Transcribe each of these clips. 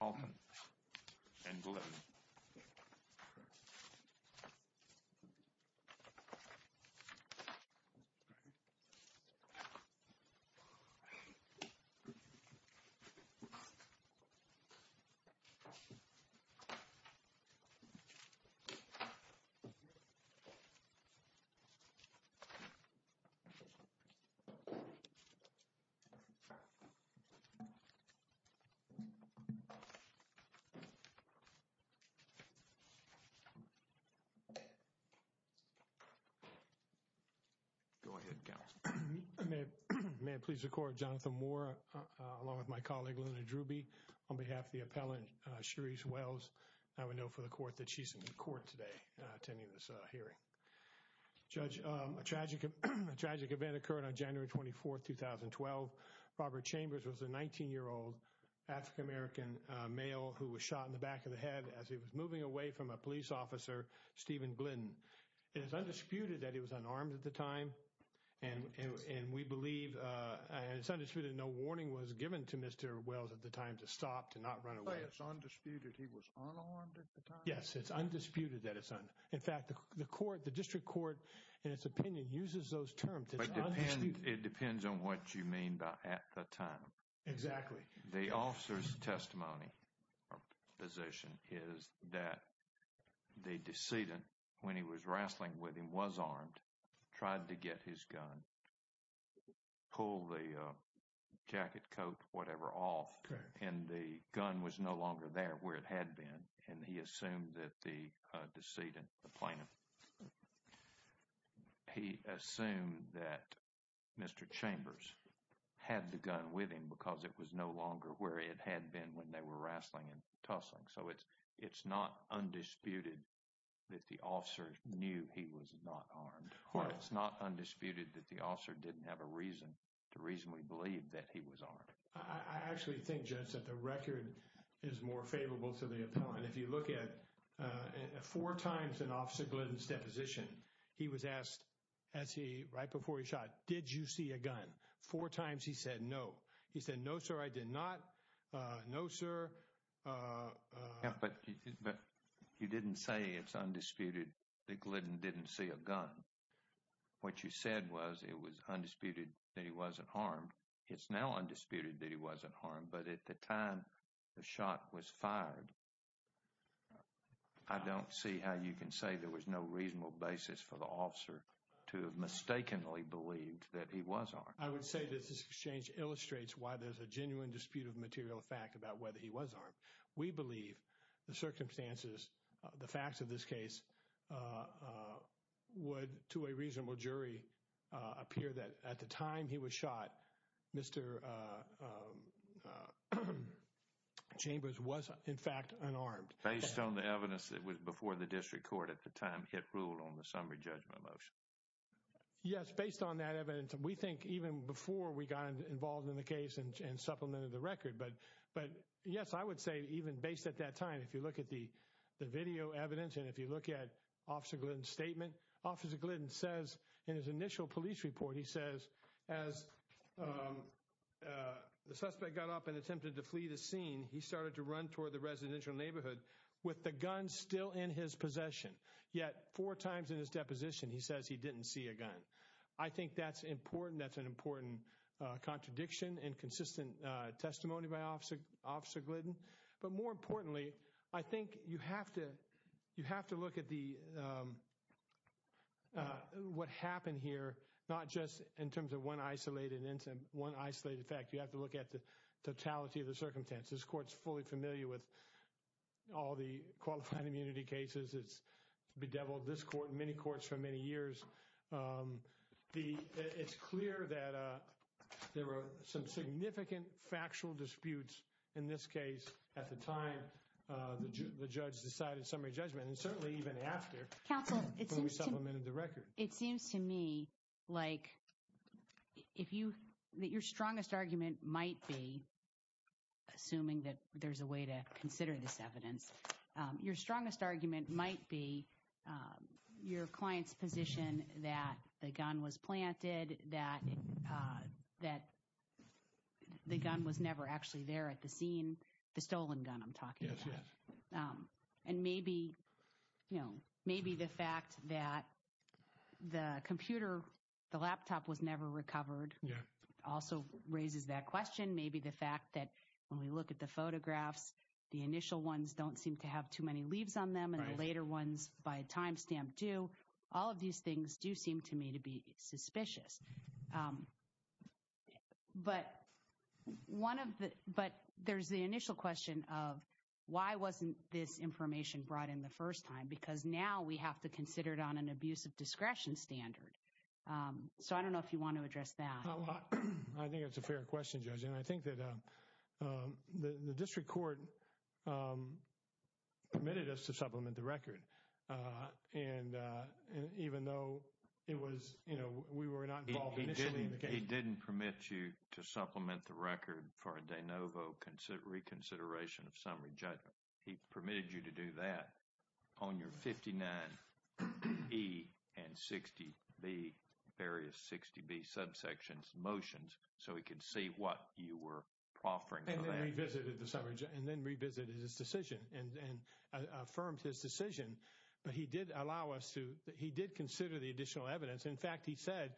and Glynn. May it please the court, Jonathan Moore, along with my colleague, Luna Druby, on behalf of the appellant, Cherise Wells, I would note for the court that she's in court today attending this hearing. Judge, a tragic event occurred on January 24th, 2012, Robert Chambers was a 19 year old African-American male who was shot in the back of the head as he was moving away from a police officer, Stephen Glynn, and it's undisputed that he was unarmed at the time and we believe, and it's undisputed, no warning was given to Mr. Wells at the time to stop, to not run away. It's undisputed he was unarmed at the time? Yes, it's undisputed that it's, in fact, the court, the district court, in its opinion, uses those terms. It's undisputed. It depends on what you mean by at the time. Exactly. The officer's testimony or position is that the decedent, when he was wrestling with him, was armed, tried to get his gun, pull the jacket, coat, whatever off, and the gun was no longer there where it had been and he assumed that the decedent, the plaintiff, he assumed that Mr. Chambers had the gun with him because it was no longer where it had been when they were wrestling and tussling. So it's not undisputed that the officer knew he was not armed. Right. It's not undisputed that the officer didn't have a reason to reasonably believe that he was armed. I actually think, Judge, that the record is more favorable to the appellant. If you look at four times in Officer Glidden's deposition, he was asked as he, right before he shot, did you see a gun? Four times he said no. He said, no, sir, I did not. No, sir. Yeah, but you didn't say it's undisputed that Glidden didn't see a gun. What you said was it was undisputed that he wasn't armed. It's now undisputed that he wasn't harmed, but at the time the shot was fired, I don't see how you can say there was no reasonable basis for the officer to have mistakenly believed that he was armed. I would say that this exchange illustrates why there's a genuine dispute of material fact about whether he was armed. We believe the circumstances, the facts of this case, would, to a reasonable jury, appear that at the time he was shot, Mr. Chambers was, in fact, unarmed. Based on the evidence that was before the district court at the time hit rule on the summary judgment motion. Yes, based on that evidence. We think even before we got involved in the case and supplemented the record, but yes, I would say even based at that time, if you look at the video evidence and if you look at Officer Glidden's statement, Officer Glidden says in his initial police report, he says as the suspect got up and attempted to flee the scene, he started to run toward the residential neighborhood with the gun still in his possession, yet four times in his deposition, he says he didn't see a gun. I think that's important. That's an important contradiction and consistent testimony by Officer Glidden, but more importantly, I think you have to look at what happened here, not just in terms of one isolated incident, one isolated fact. You have to look at the totality of the circumstances. This court's fully familiar with all the qualified immunity cases. It's bedeviled this court and many courts for many years. It's clear that there were some significant factual disputes in this case at the time the judge decided summary judgment and certainly even after we supplemented the record. It seems to me like if you, that your strongest argument might be, assuming that there's a way to that the gun was planted, that the gun was never actually there at the scene, the stolen gun, I'm talking about. And maybe, you know, maybe the fact that the computer, the laptop was never recovered also raises that question. Maybe the fact that when we look at the photographs, the initial ones don't seem to have too many leaves on them and the later ones by timestamp do, all of these things do seem to me to be suspicious. But one of the, but there's the initial question of why wasn't this information brought in the first time? Because now we have to consider it on an abuse of discretion standard. So I don't know if you want to address that. I think that's a fair question, Judge. And I think that the district court permitted us to supplement the record. And even though it was, you know, we were not involved initially in the case. He didn't permit you to supplement the record for a de novo reconsideration of summary judgment. He permitted you to do that on your 59E and 60B, various 60B subsections, motions, so he could see what you were offering. And then revisited the summary judgment and then revisited his decision and affirmed his decision. But he did allow us to, he did consider the additional evidence. In fact, he said,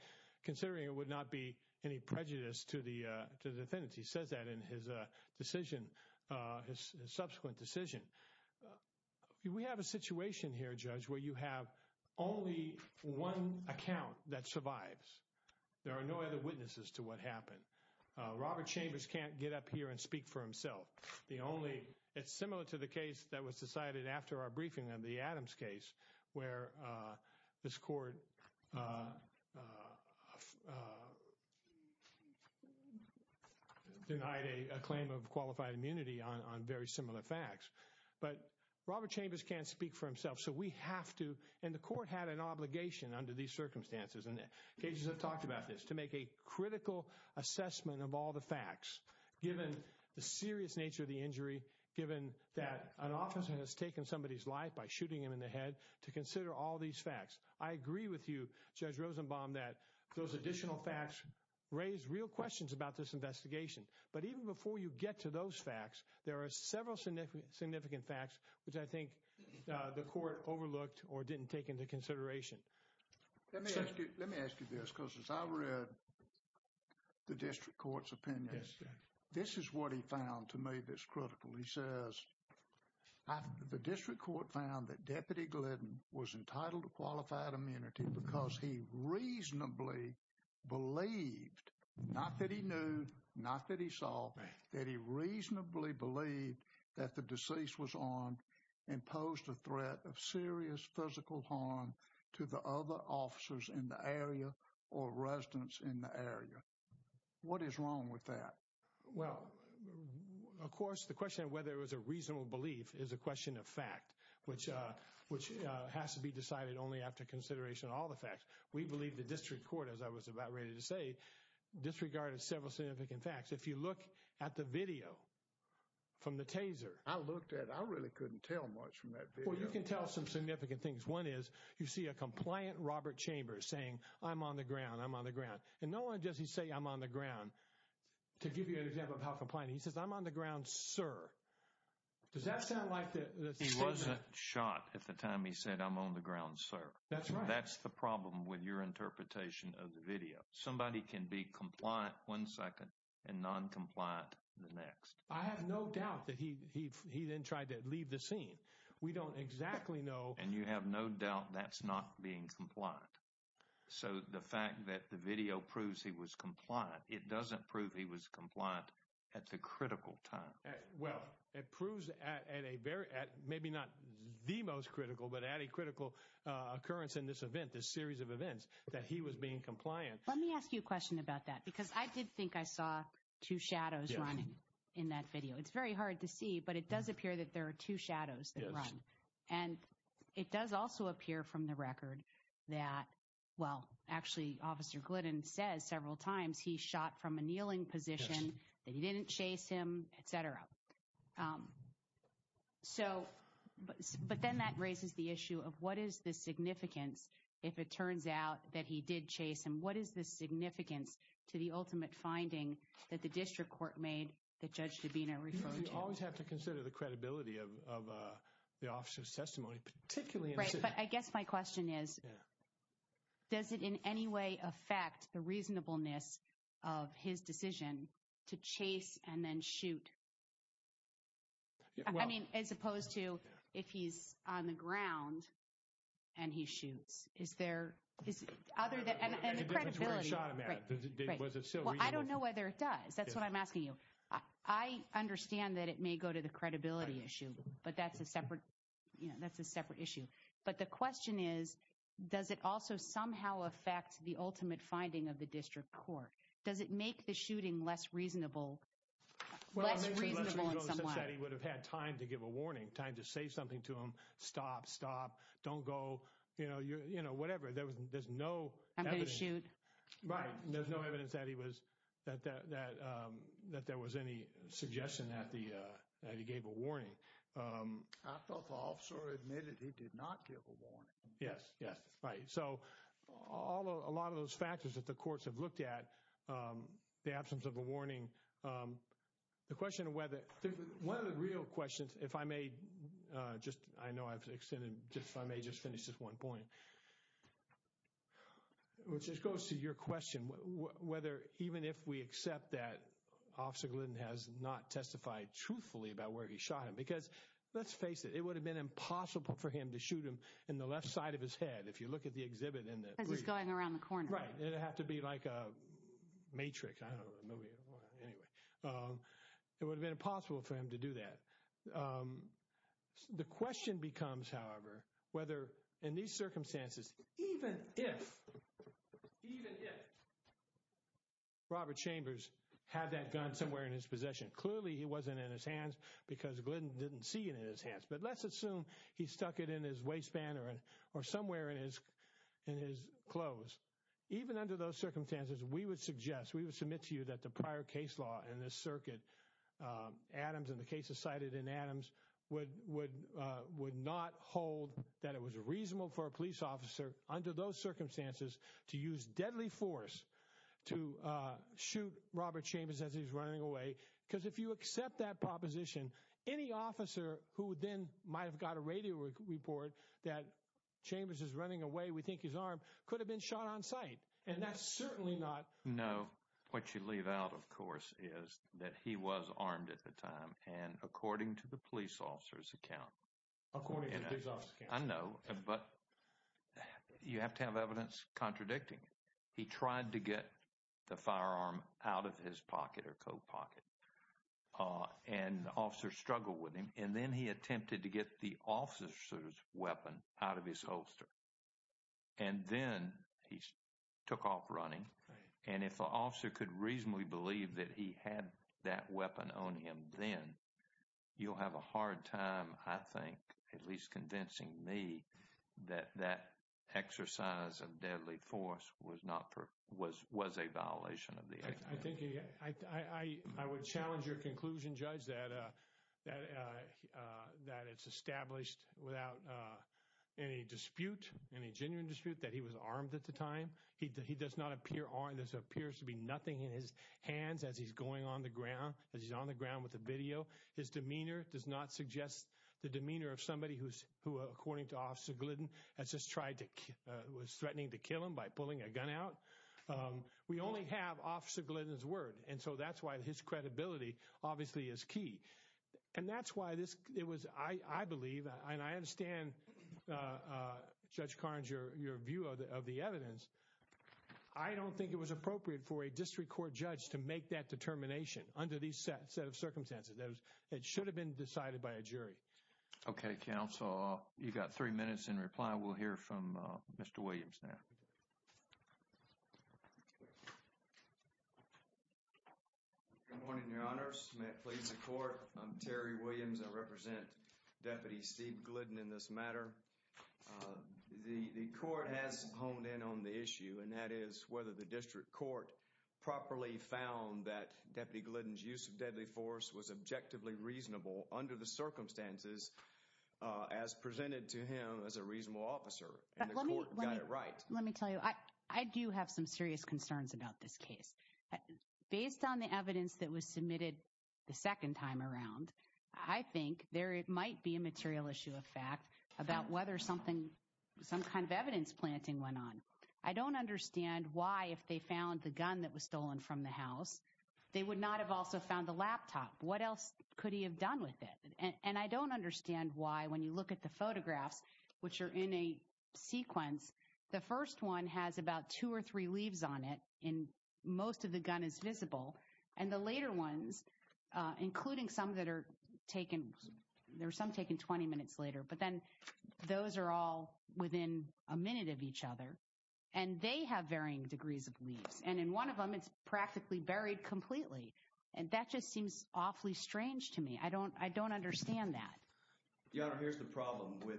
considering it would not be any prejudice to the defendant, he says that in his decision, his subsequent decision, we have a situation here, Judge, where you have only one account that survives. There are no other witnesses to what happened. Robert Chambers can't get up here and speak for himself. The only, it's similar to the case that was decided after our briefing on the Adams case where this court denied a claim of qualified immunity on very similar facts. But Robert Chambers can't speak for himself. So we have to, and the court had an obligation under these circumstances, and the judges have talked about this, to make a critical assessment of all the facts, given the serious nature of the injury, given that an officer has taken somebody's life by shooting him in the head to consider all these facts. I agree with you, Judge Rosenbaum, that those additional facts raise real questions about this investigation. But even before you get to those facts, there are several significant facts which I think the court overlooked or didn't take into consideration. Let me ask you, let me ask you this, because as I read the district court's opinion, this is what he found to me that's critical. He says the district court found that Deputy Glidden was entitled to qualified immunity because he reasonably believed, not that he knew, not that he saw, that he reasonably believed that the deceased was armed and posed a threat of serious physical harm to the other officers in the area or residents in the area. What is wrong with that? Well, of course, the question of whether it was a reasonable belief is a question of fact, which which has to be decided only after consideration of all the facts. We believe the district court, as I was about ready to say, disregarded several significant facts. If you look at the video from the Taser, I looked at I really couldn't tell much from that. Well, you can tell some significant things. One is you see a compliant Robert Chambers saying I'm on the ground, I'm on the ground. And no one does he say I'm on the ground. To give you an example of how compliant he says I'm on the ground, sir. Does that sound like he wasn't shot at the time? He said, I'm on the ground, sir. That's right. That's the problem with your interpretation of the video. Somebody can be compliant one second and noncompliant the next. I have no doubt that he he he then tried to leave the scene. We don't exactly know. And you have no doubt that's not being compliant. So the fact that the video proves he was compliant, it doesn't prove he was compliant at the critical time. Well, it proves at a very at maybe not the most critical, but at a critical occurrence in this event, this series of events that he was being compliant. Let me ask you a question about that, because I did think I saw two shadows running in that video. It's very hard to see, but it does appear that there are two shadows that run. And it does also appear from the record that, well, actually, Officer Glidden says several times he shot from a kneeling position that he didn't chase him, et cetera. So but then that raises the issue of what is the significance if it turns out that he did chase him? What is the significance to the ultimate finding that the district court made that Judge Dabena referred to? You always have to consider the credibility of the officer's testimony, particularly. Right. But I guess my question is, does it in any way affect the reasonableness of his decision to chase and then shoot? I mean, as opposed to if he's on the ground and he shoots, is there other than credibility? Was it so? Well, I don't know whether it does. That's what I'm asking you. I understand that it may go to the credibility issue, but that's a separate, you know, that's a separate issue. But the question is, does it also somehow affect the ultimate finding of the district court? Does it make the shooting less reasonable? Well, it's reasonable that he would have had time to give a warning, time to say something to him. Stop. Stop. Don't go. You know, you know, whatever. There was there's no I'm going to shoot. Right. There's no evidence that he was that that that that there was any suggestion that the that he gave a warning. I thought the officer admitted he did not give a warning. Yes. Yes. Right. So all a lot of those factors that the courts have looked at, the absence of a warning. The question of whether one of the real questions, if I may just I know I've extended just if I may just finish this one point. Which just goes to your question, whether even if we accept that Officer Glidden has not testified truthfully about where he shot him, because let's face it, it would have been impossible for him to shoot him in the left side of his head. If you look at the exhibit in that he's going around the corner. Right. It'd have to be like a matrix. I don't know. Anyway, it would have been impossible for him to do that. The question becomes, however, whether in these circumstances, even if even if. Robert Chambers had that gun somewhere in his possession, clearly he wasn't in his hands because Glidden didn't see it in his hands, but let's assume he stuck it in his waistband or or somewhere in his in his clothes, even under those circumstances, we would suggest we would submit to you that the prior case law in this circuit. Adams and the cases cited in Adams would would would not hold that it was reasonable for a police officer under those circumstances to use deadly force to shoot Robert Chambers as he's running away, because if you accept that proposition, any officer who then might have got a radio report that Chambers is running away, we think his arm could have been shot on site. And that's certainly not. No, what you leave out, of course, is that he was armed at the time. And according to the police officer's account, according to his office, I know. But you have to have evidence contradicting he tried to get the firearm out of his pocket or coat pocket and officer struggle with him. And then he attempted to get the officer's weapon out of his holster. And then he took off running, and if the officer could reasonably believe that he had that weapon on him, then you'll have a hard time, I think, at least convincing me that that exercise of deadly force was not for was was a violation of the. I think I would challenge your conclusion, judge, that that that it's established without any dispute, any genuine dispute that he was armed at the time. He does not appear on this appears to be nothing in his hands as he's going on the ground, as he's on the ground with a video. His demeanor does not suggest the demeanor of somebody who's who, according to Officer Glidden, has just tried to was threatening to kill him by pulling a gun out. We only have Officer Glidden's word, and so that's why his credibility obviously is key. And that's why this it was, I believe, and I understand, Judge Carnes, your view of the evidence. I don't think it was appropriate for a district court judge to make that determination under these set of circumstances that it should have been decided by a jury. OK, counsel, you've got three minutes in reply. We'll hear from Mr. Williams now. Good morning, your honors. May it please the court. I'm Terry Williams. I represent Deputy Steve Glidden in this matter. The court has honed in on the issue, and that is whether the district court properly found that Deputy Glidden's use of deadly force was objectively reasonable under the circumstances as presented to him as a reasonable officer. And the court got it right. Let me tell you, I do have some serious concerns about this case. Based on the evidence that was submitted the second time around, I think there might be a material issue of fact about whether something some kind of evidence planting went on. I don't understand why, if they found the gun that was stolen from the house, they would not have also found the laptop. What else could he have done with it? And I don't understand why, when you look at the photographs, which are in a sequence, the first one has about two or three leaves on it. And most of the gun is visible. And the later ones, including some that are taken, there are some taken 20 minutes later. But then those are all within a minute of each other. And they have varying degrees of leaves. And in one of them, it's practically buried completely. And that just seems awfully strange to me. I don't I don't understand that. Your Honor, here's the problem with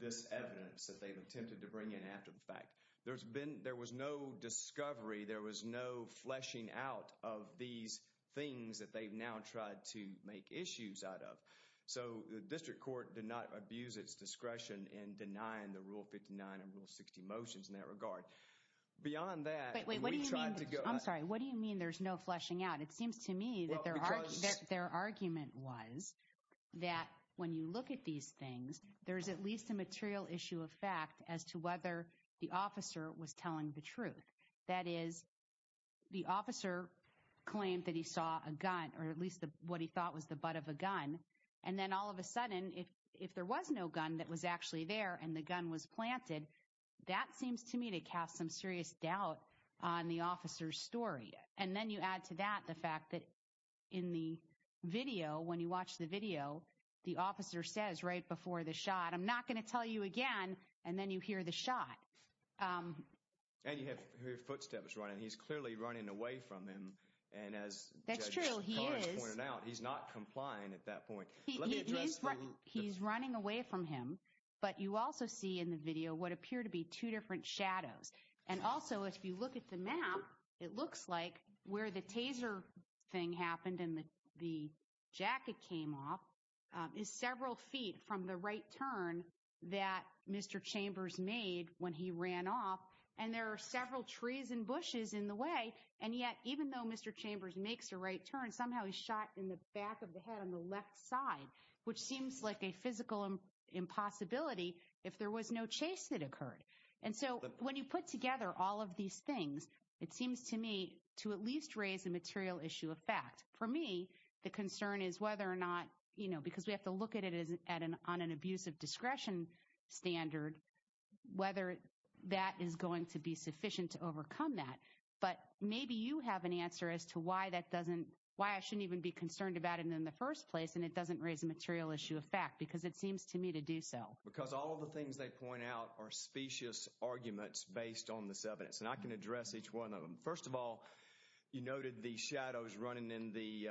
this evidence that they've attempted to bring in after the fact. There's been there was no discovery. There was no fleshing out of these things that they've now tried to make issues out of. So the district court did not abuse its discretion in denying the Rule 59 and Rule 60 motions in that regard. Beyond that, we tried to go. I'm sorry. What do you mean there's no fleshing out? It seems to me that their argument was that when you look at these things, there's at least a material issue of fact as to whether the officer was telling the truth. That is, the officer claimed that he saw a gun or at least what he thought was the butt of a gun. And then all of a sudden, if if there was no gun that was actually there and the gun was planted, that seems to me to cast some serious doubt on the officer's story. And then you add to that the fact that in the video, when you watch the video, the officer says right before the shot, I'm not going to tell you again. And then you hear the shot and you have her footsteps running. He's clearly running away from him. And as that's true, he is pointing out he's not complying at that point. Let me address. He's running away from him. But you also see in the video what appear to be two different shadows. And also, if you look at the map, it looks like where the taser thing happened and the jacket came off is several feet from the right turn that Mr. Chambers made when he ran off. And there are several trees and bushes in the way. And yet, even though Mr. Chambers makes a right turn, somehow he's shot in the back of the head on the left side, which seems like a physical impossibility if there was no chase that occurred. And so when you put together all of these things, it seems to me to at least raise a material issue of fact. For me, the concern is whether or not, you know, because we have to look at it as an on an abuse of discretion standard, whether that is going to be sufficient to overcome that. But maybe you have an answer as to why that doesn't why I shouldn't even be concerned about it in the first place. And it doesn't raise a material issue of fact, because it seems to me to do so. Because all of the things they point out are specious arguments based on this evidence, and I can address each one of them. First of all, you noted the shadows running in the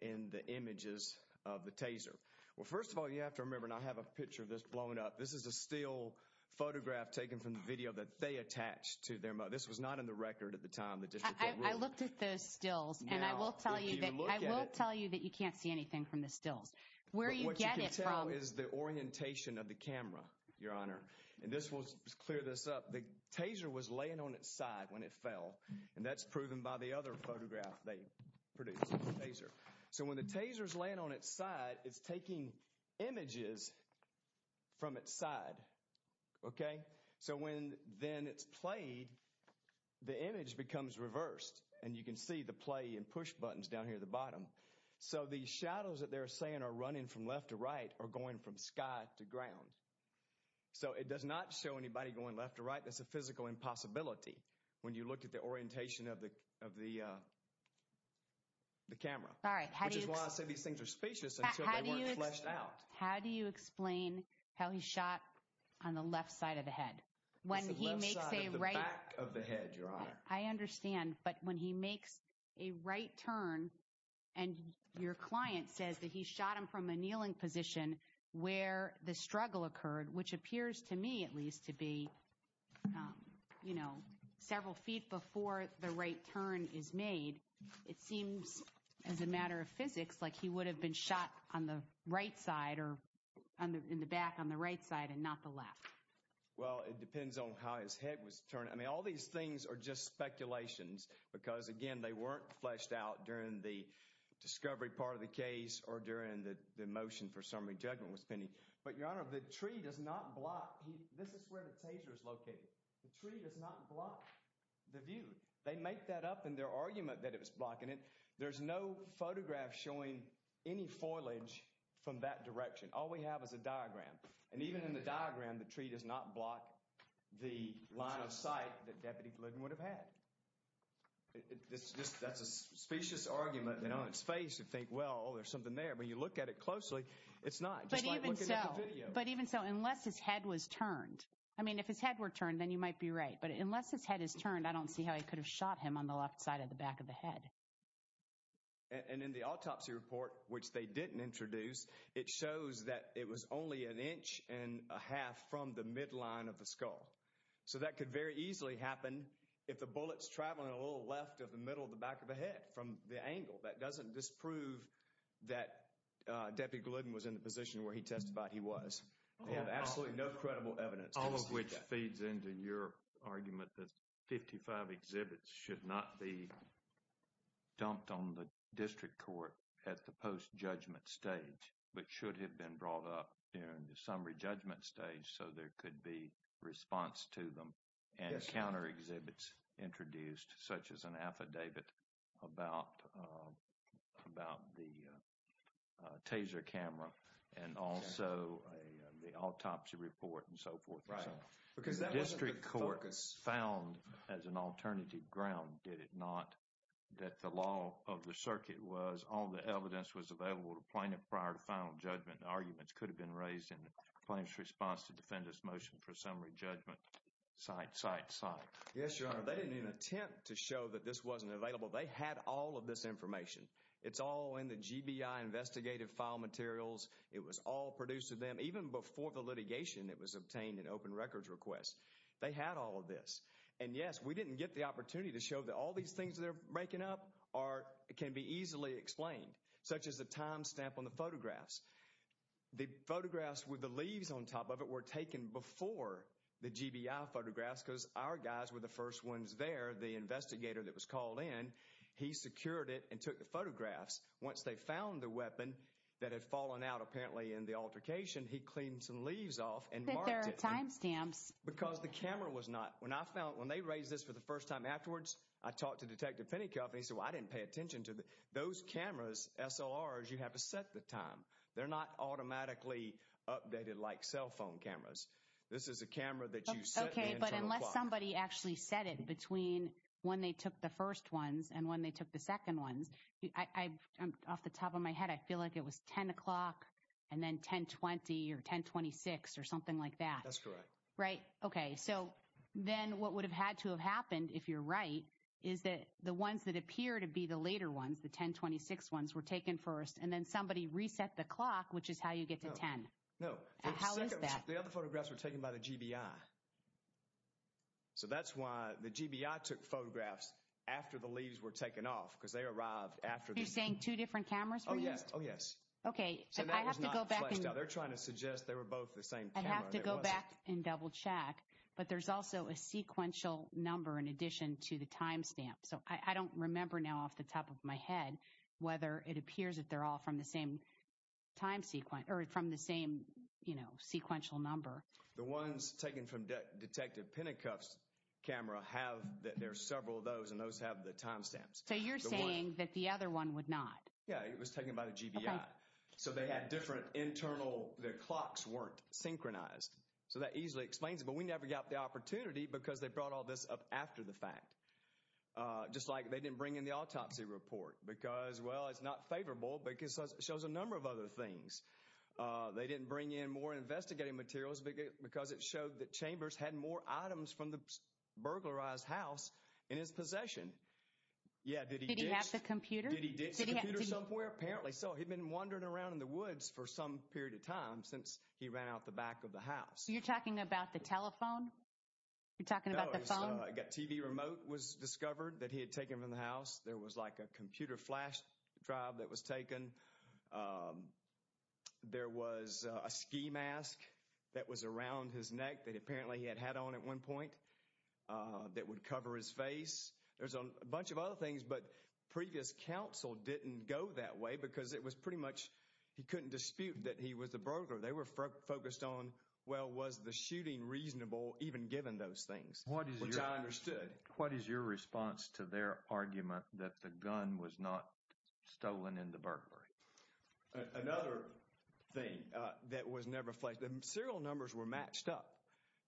in the images of the taser. Well, first of all, you have to remember, and I have a picture of this blown up. This is a still photograph taken from the video that they attached to their. This was not in the record at the time. The district. I looked at the stills and I will tell you that I will tell you that you can't see anything from the stills. Where you get it from is the orientation of the camera, your honor. And this was clear this up. The taser was laying on its side when it fell. And that's proven by the other photograph they produced. So when the tasers land on its side, it's taking images from its side. OK, so when then it's played, the image becomes reversed and you can see the play and push buttons down here at the bottom. So the shadows that they're saying are running from left to right are going from sky to ground. So it does not show anybody going left or right. That's a physical impossibility when you look at the orientation of the of the. The camera, which is why I say these things are spacious and fleshed out. How do you explain how he shot on the left side of the head when he makes a right of the head, your honor? I understand. But when he makes a right turn and your client says that he shot him from a kneeling position where the struggle occurred, which appears to me at least to be, you know, several feet before the right turn is made. It seems as a matter of physics like he would have been shot on the right side or in the back on the right side and not the left. Well, it depends on how his head was turned. I mean, all these things are just speculations because, again, they weren't fleshed out during the discovery part of the case or during the motion for summary judgment was pending. But your honor, the tree does not block. This is where the taser is located. The tree does not block the view. They make that up in their argument that it was blocking it. There's no photograph showing any foliage from that direction. All we have is a diagram. And even in the diagram, the tree does not block the line of sight that Deputy Blinton would have had. That's a specious argument that on its face, you think, well, there's something there. But you look at it closely. It's not. But even so, unless his head was turned, I mean, if his head were turned, then you might be right. But unless his head is turned, I don't see how he could have shot him on the left side of the back of the head. And in the autopsy report, which they didn't introduce, it shows that it was only an inch and a half from the midline of the skull. So that could very easily happen if the bullets travel a little left of the middle of the back of the head from the angle. That doesn't disprove that Deputy Glidden was in the position where he testified he was. They have absolutely no credible evidence. All of which feeds into your argument that 55 exhibits should not be dumped on the district court at the post judgment stage, but should have been brought up in the summary judgment stage. So there could be response to them and counter exhibits introduced, such as an affidavit about the taser camera and also the autopsy report and so forth. Because the district court found as an alternative ground, did it not, that the law of the circuit was all the evidence was available to plaintiff prior to final judgment. Arguments could have been raised in the plaintiff's response to defendant's motion for summary judgment. Cite, cite, cite. Yes, Your Honor. They didn't even attempt to show that this wasn't available. They had all of this information. It's all in the GBI investigative file materials. It was all produced of them. Even before the litigation, it was obtained in open records requests. They had all of this. And yes, we didn't get the opportunity to show that all these things that are breaking up are, can be easily explained, such as the time stamp on the photographs. The photographs with the leaves on top of it were taken before the GBI photographs because our guys were the first ones there. The investigator that was called in, he secured it and took the photographs. Once they found the weapon that had fallen out, apparently in the altercation, he cleaned some leaves off and marked it because the camera was not, when I found, when they raised this for the first time afterwards, I talked to Detective Pennycuff and he said, well, I didn't pay attention to those cameras, SLRs. You have to set the time. They're not automatically updated like cell phone cameras. This is a camera that you set. OK, but unless somebody actually set it between when they took the first ones and when they took the second ones. I'm off the top of my head. I feel like it was 10 o'clock and then 1020 or 1026 or something like that. That's correct. Right. OK, so then what would have had to have happened, if you're right, is that the ones that appear to be the later ones, the 1026 ones were taken first and then somebody reset the clock, which is how you get to 10. No. How is that? The other photographs were taken by the GBI. So that's why the GBI took photographs after the leaves were taken off, because they arrived after the same two different cameras. Oh, yes. Oh, yes. OK, so they're trying to suggest they were both the same. I have to go back and double check. But there's also a sequential number in addition to the timestamp. So I don't remember now off the top of my head whether it appears that they're all from the same time sequence or from the same, you know, sequential number. The ones taken from Detective Pinnacuff's camera have that there are several of those and those have the timestamps. So you're saying that the other one would not. Yeah, it was taken by the GBI. So they had different internal the clocks weren't synchronized. So that easily explains it. But we never got the opportunity because they brought all this up after the fact. Just like they didn't bring in the autopsy report because, well, it's not favorable because it shows a number of other things. They didn't bring in more investigating materials because it showed that Chambers had more items from the burglarized house in his possession. Yeah. Did he have the computer? Did he get somewhere? Apparently so. He'd been wandering around in the woods for some period of time since he ran out the back of the house. So you're talking about the telephone. You're talking about the phone. I got TV remote was discovered that he had taken from the house. There was like a computer flash drive that was taken. There was a ski mask that was around his neck that apparently he had had on at one point that would cover his face. There's a bunch of other things. But previous counsel didn't go that way because it was pretty much he couldn't dispute that he was the burglar. They were focused on, well, was the shooting reasonable even given those things? What is your understood? What is your response to their argument that the gun was not stolen in the burglary? Another thing that was never flagged, the serial numbers were matched up.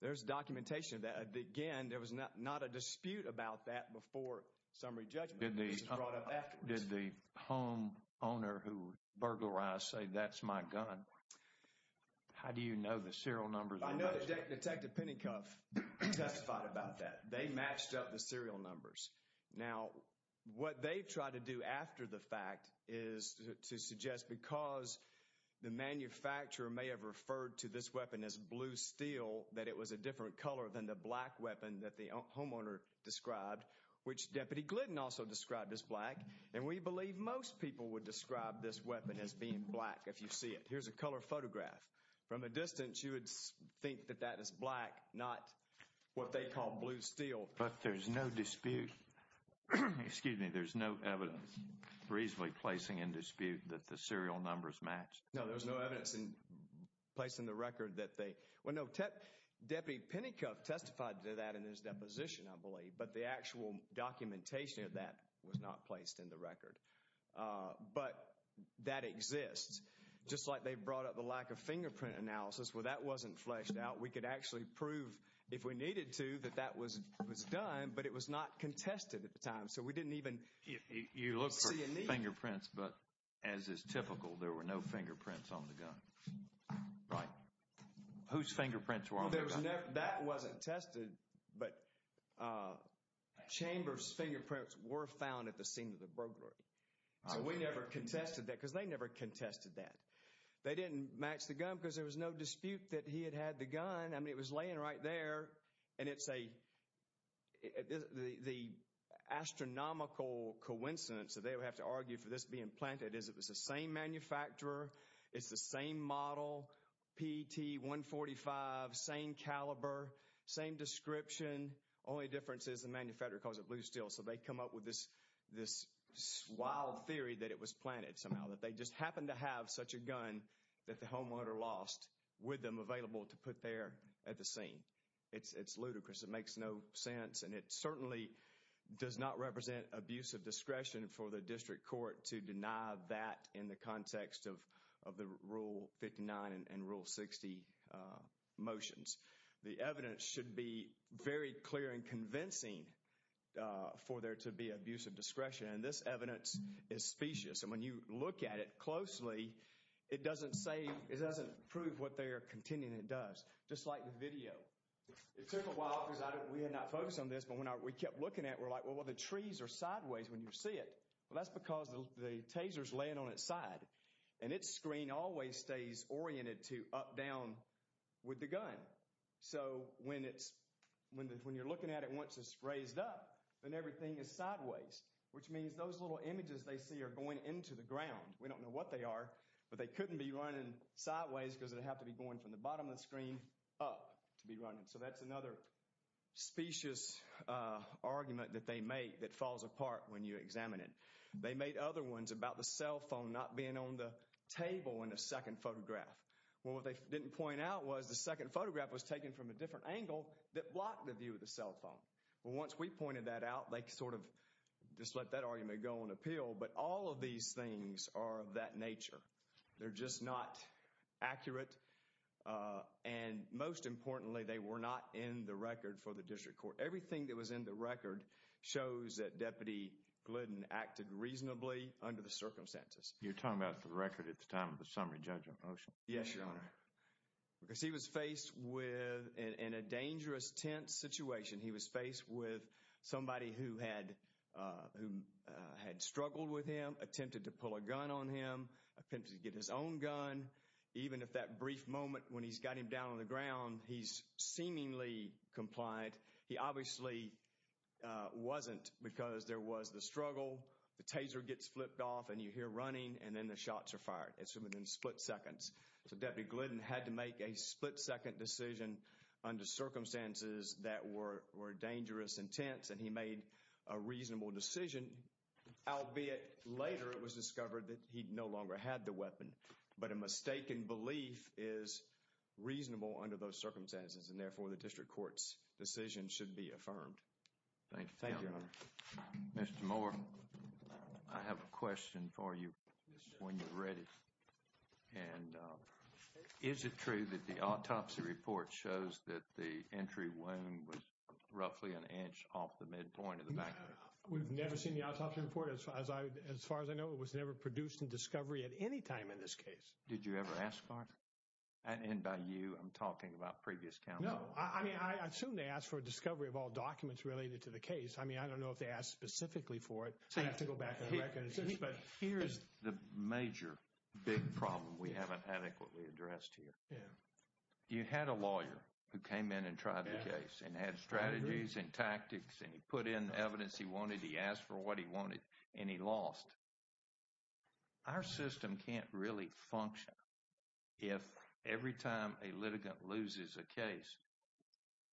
There's documentation that again, there was not a dispute about that before summary judgment. Did the home owner who burglarized say, that's my gun? How do you know the serial numbers? I know Detective Pinnacuff testified about that. They matched up the serial numbers. Now, what they try to do after the fact is to suggest because the manufacturer may have referred to this weapon as blue steel, that it was a different color than the black weapon that the homeowner described, which Deputy Glidden also described as black. And we believe most people would describe this weapon as being black if you see it. Here's a color photograph from a distance. You would think that that is black, not what they call blue steel. But there's no dispute, excuse me, there's no evidence reasonably placing in dispute that the serial numbers match. No, there's no evidence placed in the record that they, well, no, Deputy Pinnacuff testified to that in his deposition, I believe. But the actual documentation of that was not placed in the record. But that exists, just like they brought up the lack of fingerprint analysis. Well, that wasn't fleshed out. We could actually prove, if we needed to, that that was done, but it was not contested at the time. So, we didn't even see a need. You looked for fingerprints, but as is typical, there were no fingerprints on the gun, right? Whose fingerprints were on the gun? That wasn't tested, but Chambers' fingerprints were found at the scene of the burglary. So, we never contested that because they never contested that. They didn't match the gun because there was no dispute that he had had the gun. I mean, it was laying right there, and it's a, the astronomical coincidence that they would have to argue for this being planted is it was the same manufacturer, it's the same model, PT-145, same caliber, same description, only difference is the manufacturer calls it blue steel. So, they come up with this wild theory that it was planted somehow, that they just happened to have such a gun that the homeowner lost with them available to put there at the scene. It's ludicrous. It makes no sense, and it certainly does not represent abuse of discretion for the district court to deny that in the context of the Rule 59 and Rule 60 motions. The evidence should be very clear and convincing for there to be abuse of discretion, and this evidence is specious, and when you look at it closely, it doesn't say, it doesn't prove what they are contending it does. Just like the video, it took a while because we had not focused on this, but when we kept looking at it, we're like, well, the trees are sideways when you see it. Well, that's because the taser is laying on its side, and its screen always stays oriented to up, down with the gun. So, when you're looking at it, once it's raised up, then everything is sideways, which means those little images they see are going into the ground. We don't know what they are, but they couldn't be running sideways because they'd have to be going from the bottom of the screen up to be running. So, that's another specious argument that they make that falls apart when you examine it. They made other ones about the cell phone not being on the table in the second photograph. Well, what they didn't point out was the second photograph was taken from a different angle that blocked the view of the cell phone. Well, once we pointed that out, they sort of just let that argument go on appeal, but all of these things are of that nature. They're just not accurate, and most importantly, they were not in the record for the district court. Everything that was in the record shows that Deputy Glidden acted reasonably under the circumstances. You're talking about the record at the time of the summary judgment motion? Yes, Your Honor, because he was faced with, in a dangerous, tense situation, he was faced with somebody who had struggled with him, attempted to pull a gun on him, attempted to get his own gun. Even if that brief moment when he's got him down on the ground, he's seemingly compliant. He obviously wasn't because there was the struggle, the taser gets flipped off, and you hear running, and then the shots are fired. It's within split seconds. So, Deputy Glidden had to make a split-second decision under circumstances that were dangerous and tense, and he made a reasonable decision, albeit later it was discovered that he no longer had the weapon. But a mistaken belief is reasonable under those circumstances, and therefore, the district court's decision should be affirmed. Thank you, Your Honor. Mr. Moore, I have a question for you when you're ready, and is it true that the autopsy report shows that the entry wound was roughly an inch off the midpoint of the back of him? We've never seen the autopsy report. As far as I know, it was never produced in discovery at any time in this case. Did you ever ask for it? And by you, I'm talking about previous counsel. No, I mean, I assume they asked for a discovery of all documents related to the case. I mean, I don't know if they asked specifically for it, so I'd have to go back and recognize this, but here is the major, big problem we haven't adequately addressed here. You had a lawyer who came in and tried the case and had strategies and tactics, and he put in the evidence he wanted, he asked for what he wanted, and he lost. Our system can't really function if every time a litigant loses a case,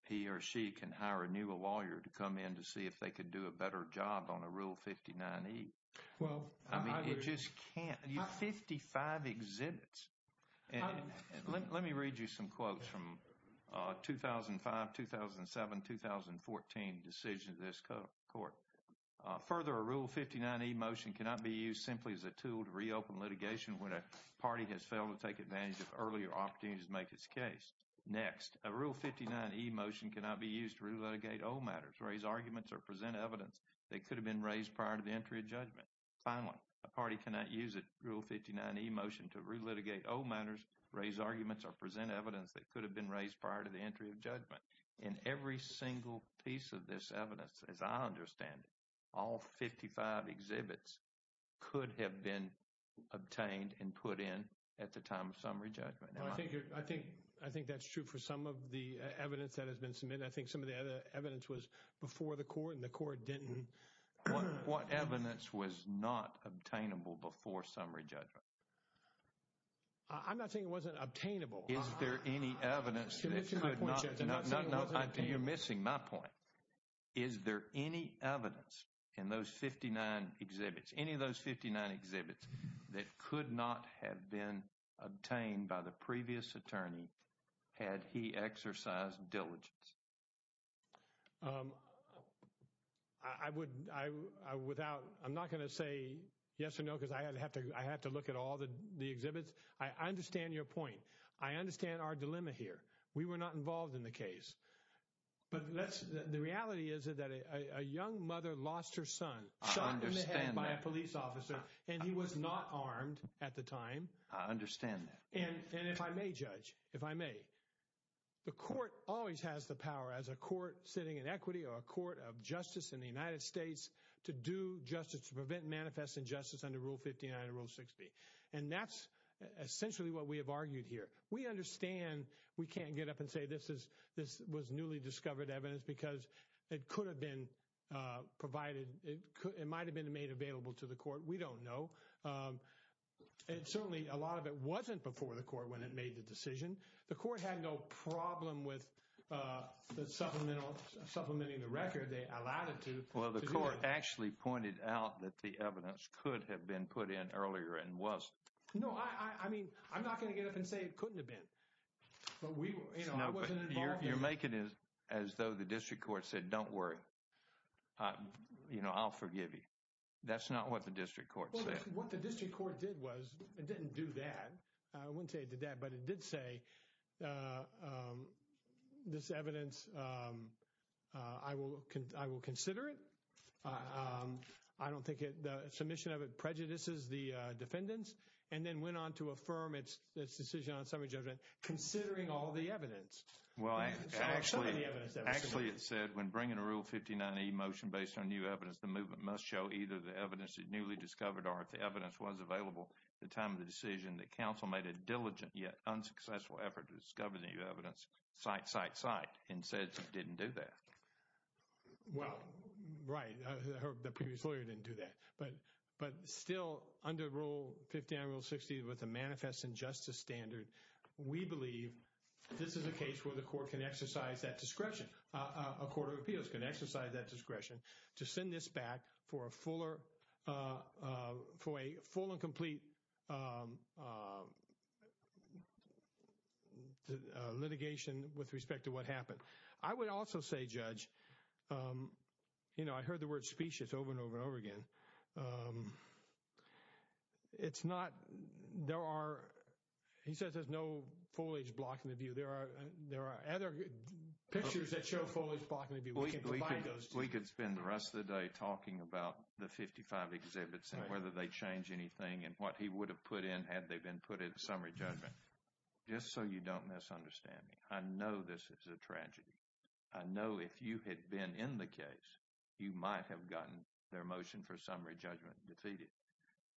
he or she can hire a new lawyer to come in to see if they could do a better job on a Rule 59E. Well, I mean, it just can't. You have 55 exhibits. And let me read you some quotes from 2005, 2007, 2014 decisions of this court. Further, a Rule 59E motion cannot be used simply as a tool to reopen litigation when a party has failed to take advantage of earlier opportunities to make its case. Next, a Rule 59E motion cannot be used to re-litigate old matters, raise arguments, or present evidence that could have been raised prior to the entry of judgment. Finally, a party cannot use a Rule 59E motion to re-litigate old matters, raise arguments, or present evidence that could have been raised prior to the entry of judgment. In every single piece of this evidence, as I understand it, all 55 exhibits could have been obtained and put in at the time of summary judgment. I think I think I think that's true for some of the evidence that has been submitted. I think some of the evidence was before the court and the court didn't. What evidence was not obtainable before summary judgment? I'm not saying it wasn't obtainable. Is there any evidence that could not be obtained? You're missing my point. Is there any evidence in those 59 exhibits, any of those 59 exhibits that could not have been obtained by the previous attorney had he exercised diligence? I would I without I'm not going to say yes or no, because I have to I have to look at all the exhibits. I understand your point. I understand our dilemma here. We were not involved in the case. But the reality is that a young mother lost her son shot in the head by a police officer and he was not armed at the time. I understand that. And if I may judge, if I may, the court always has the power as a court sitting in equity or a court of justice in the United States to do justice, to prevent manifest injustice under Rule 59 and Rule 60. And that's essentially what we have argued here. We understand we can't get up and say this is this was newly discovered evidence because it could have been provided. It might have been made available to the court. We don't know. And certainly a lot of it wasn't before the court when it made the decision. The court had no problem with the supplemental supplementing the record. They allowed it to. Well, the court actually pointed out that the evidence could have been put in earlier and was. No, I mean, I'm not going to get up and say it couldn't have been, but we know you're making it as though the district court said, don't worry, you know, I'll forgive you. That's not what the district court said. What the district court did was it didn't do that. I wouldn't say it did that, but it did say this evidence. I will. I will consider it. I don't think the submission of it prejudices the defendants and then went on to affirm its decision on summary judgment, considering all the evidence. Well, actually, actually, it said when bringing a Rule 59E motion based on new evidence, the movement must show either the evidence is newly discovered or if the evidence was available at the time of the decision, the council made a diligent yet unsuccessful effort to discover the new evidence. Cite, cite, cite and said it didn't do that. Well, right. The previous lawyer didn't do that, but but still under Rule 59, Rule 60 with a manifest injustice standard, we believe this is a case where the court can exercise that discretion. A court of appeals can exercise that discretion to send this back for a fuller for a full and complete litigation with respect to what happened. I would also say, Judge, you know, I heard the word specious over and over and over again. It's not there are he says there's no foliage blocking the view. There are there are other pictures that show foliage blocking the view. We can provide those. We could spend the rest of the day talking about the 55 exhibits and whether they change anything and what he would have put in had they been put in summary judgment. Just so you don't misunderstand me. I know this is a tragedy. I know if you had been in the case, you might have gotten their motion for summary judgment defeated.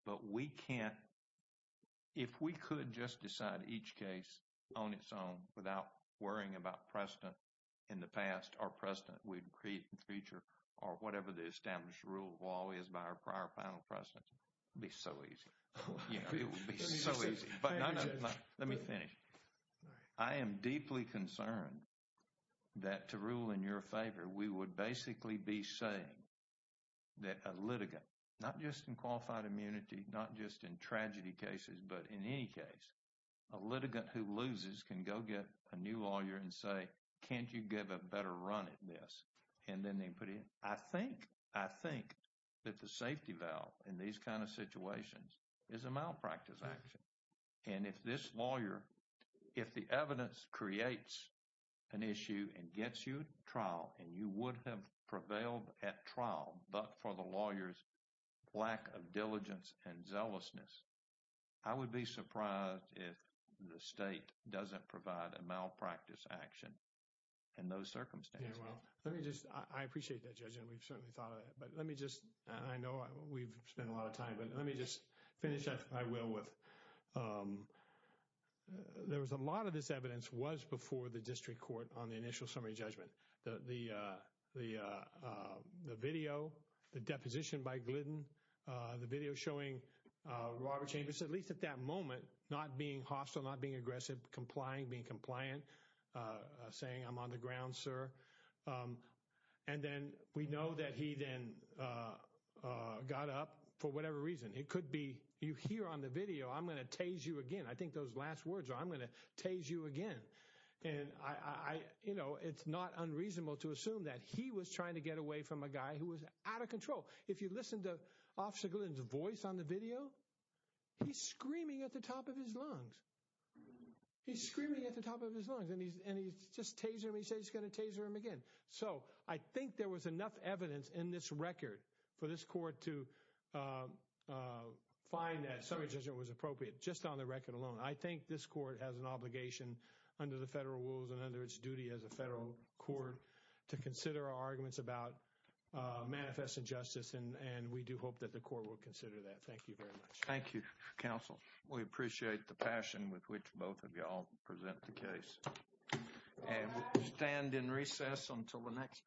But we can't. If we could just decide each case on its own without worrying about precedent in the past or precedent, we'd create a feature or whatever the established rule law is by our prior final precedent. Be so easy. You know, it would be so easy. But let me finish. I am deeply concerned that to rule in your favor, we would basically be saying that a litigant, not just in qualified immunity, not just in tragedy cases, but in any case, a litigant who loses can go get a new lawyer and say, can't you give a better run at this? And then they put in, I think, I think that the safety valve in these kind of situations is a malpractice action. And if this lawyer, if the evidence creates an issue and gets you trial and you would have prevailed at trial, but for the lawyer's lack of diligence and zealousness, I would be surprised if the state doesn't provide a malpractice action in those circumstances. Well, let me just I appreciate that, Judge. And we've certainly thought of it. But let me just I know we've spent a lot of time, but let me just finish that I will with. There was a lot of this evidence was before the district court on the initial summary judgment, the video, the deposition by Glidden, the video showing Robert Chambers, at least at that moment, not being hostile, not being aggressive, complying, being compliant, saying I'm on the ground, sir. And then we know that he then got up for whatever reason. It could be you here on the video. I'm going to tase you again. I think those last words are I'm going to tase you again. And I, you know, it's not unreasonable to assume that he was trying to get away from a guy who was out of control. If you listen to Officer Glidden's voice on the video, he's screaming at the top of his lungs. He's screaming at the top of his lungs. And he's and he's just tase him. He says he's going to tase him again. So I think there was enough evidence in this record for this court to find that summary judgment was appropriate just on the record alone. I think this court has an obligation under the federal rules and under its duty as a federal court to consider arguments about manifest injustice. And we do hope that the court will consider that. Thank you very much. Thank you, counsel. We appreciate the passion with which both of you all present the case. And we'll stand in recess until the next panel sits.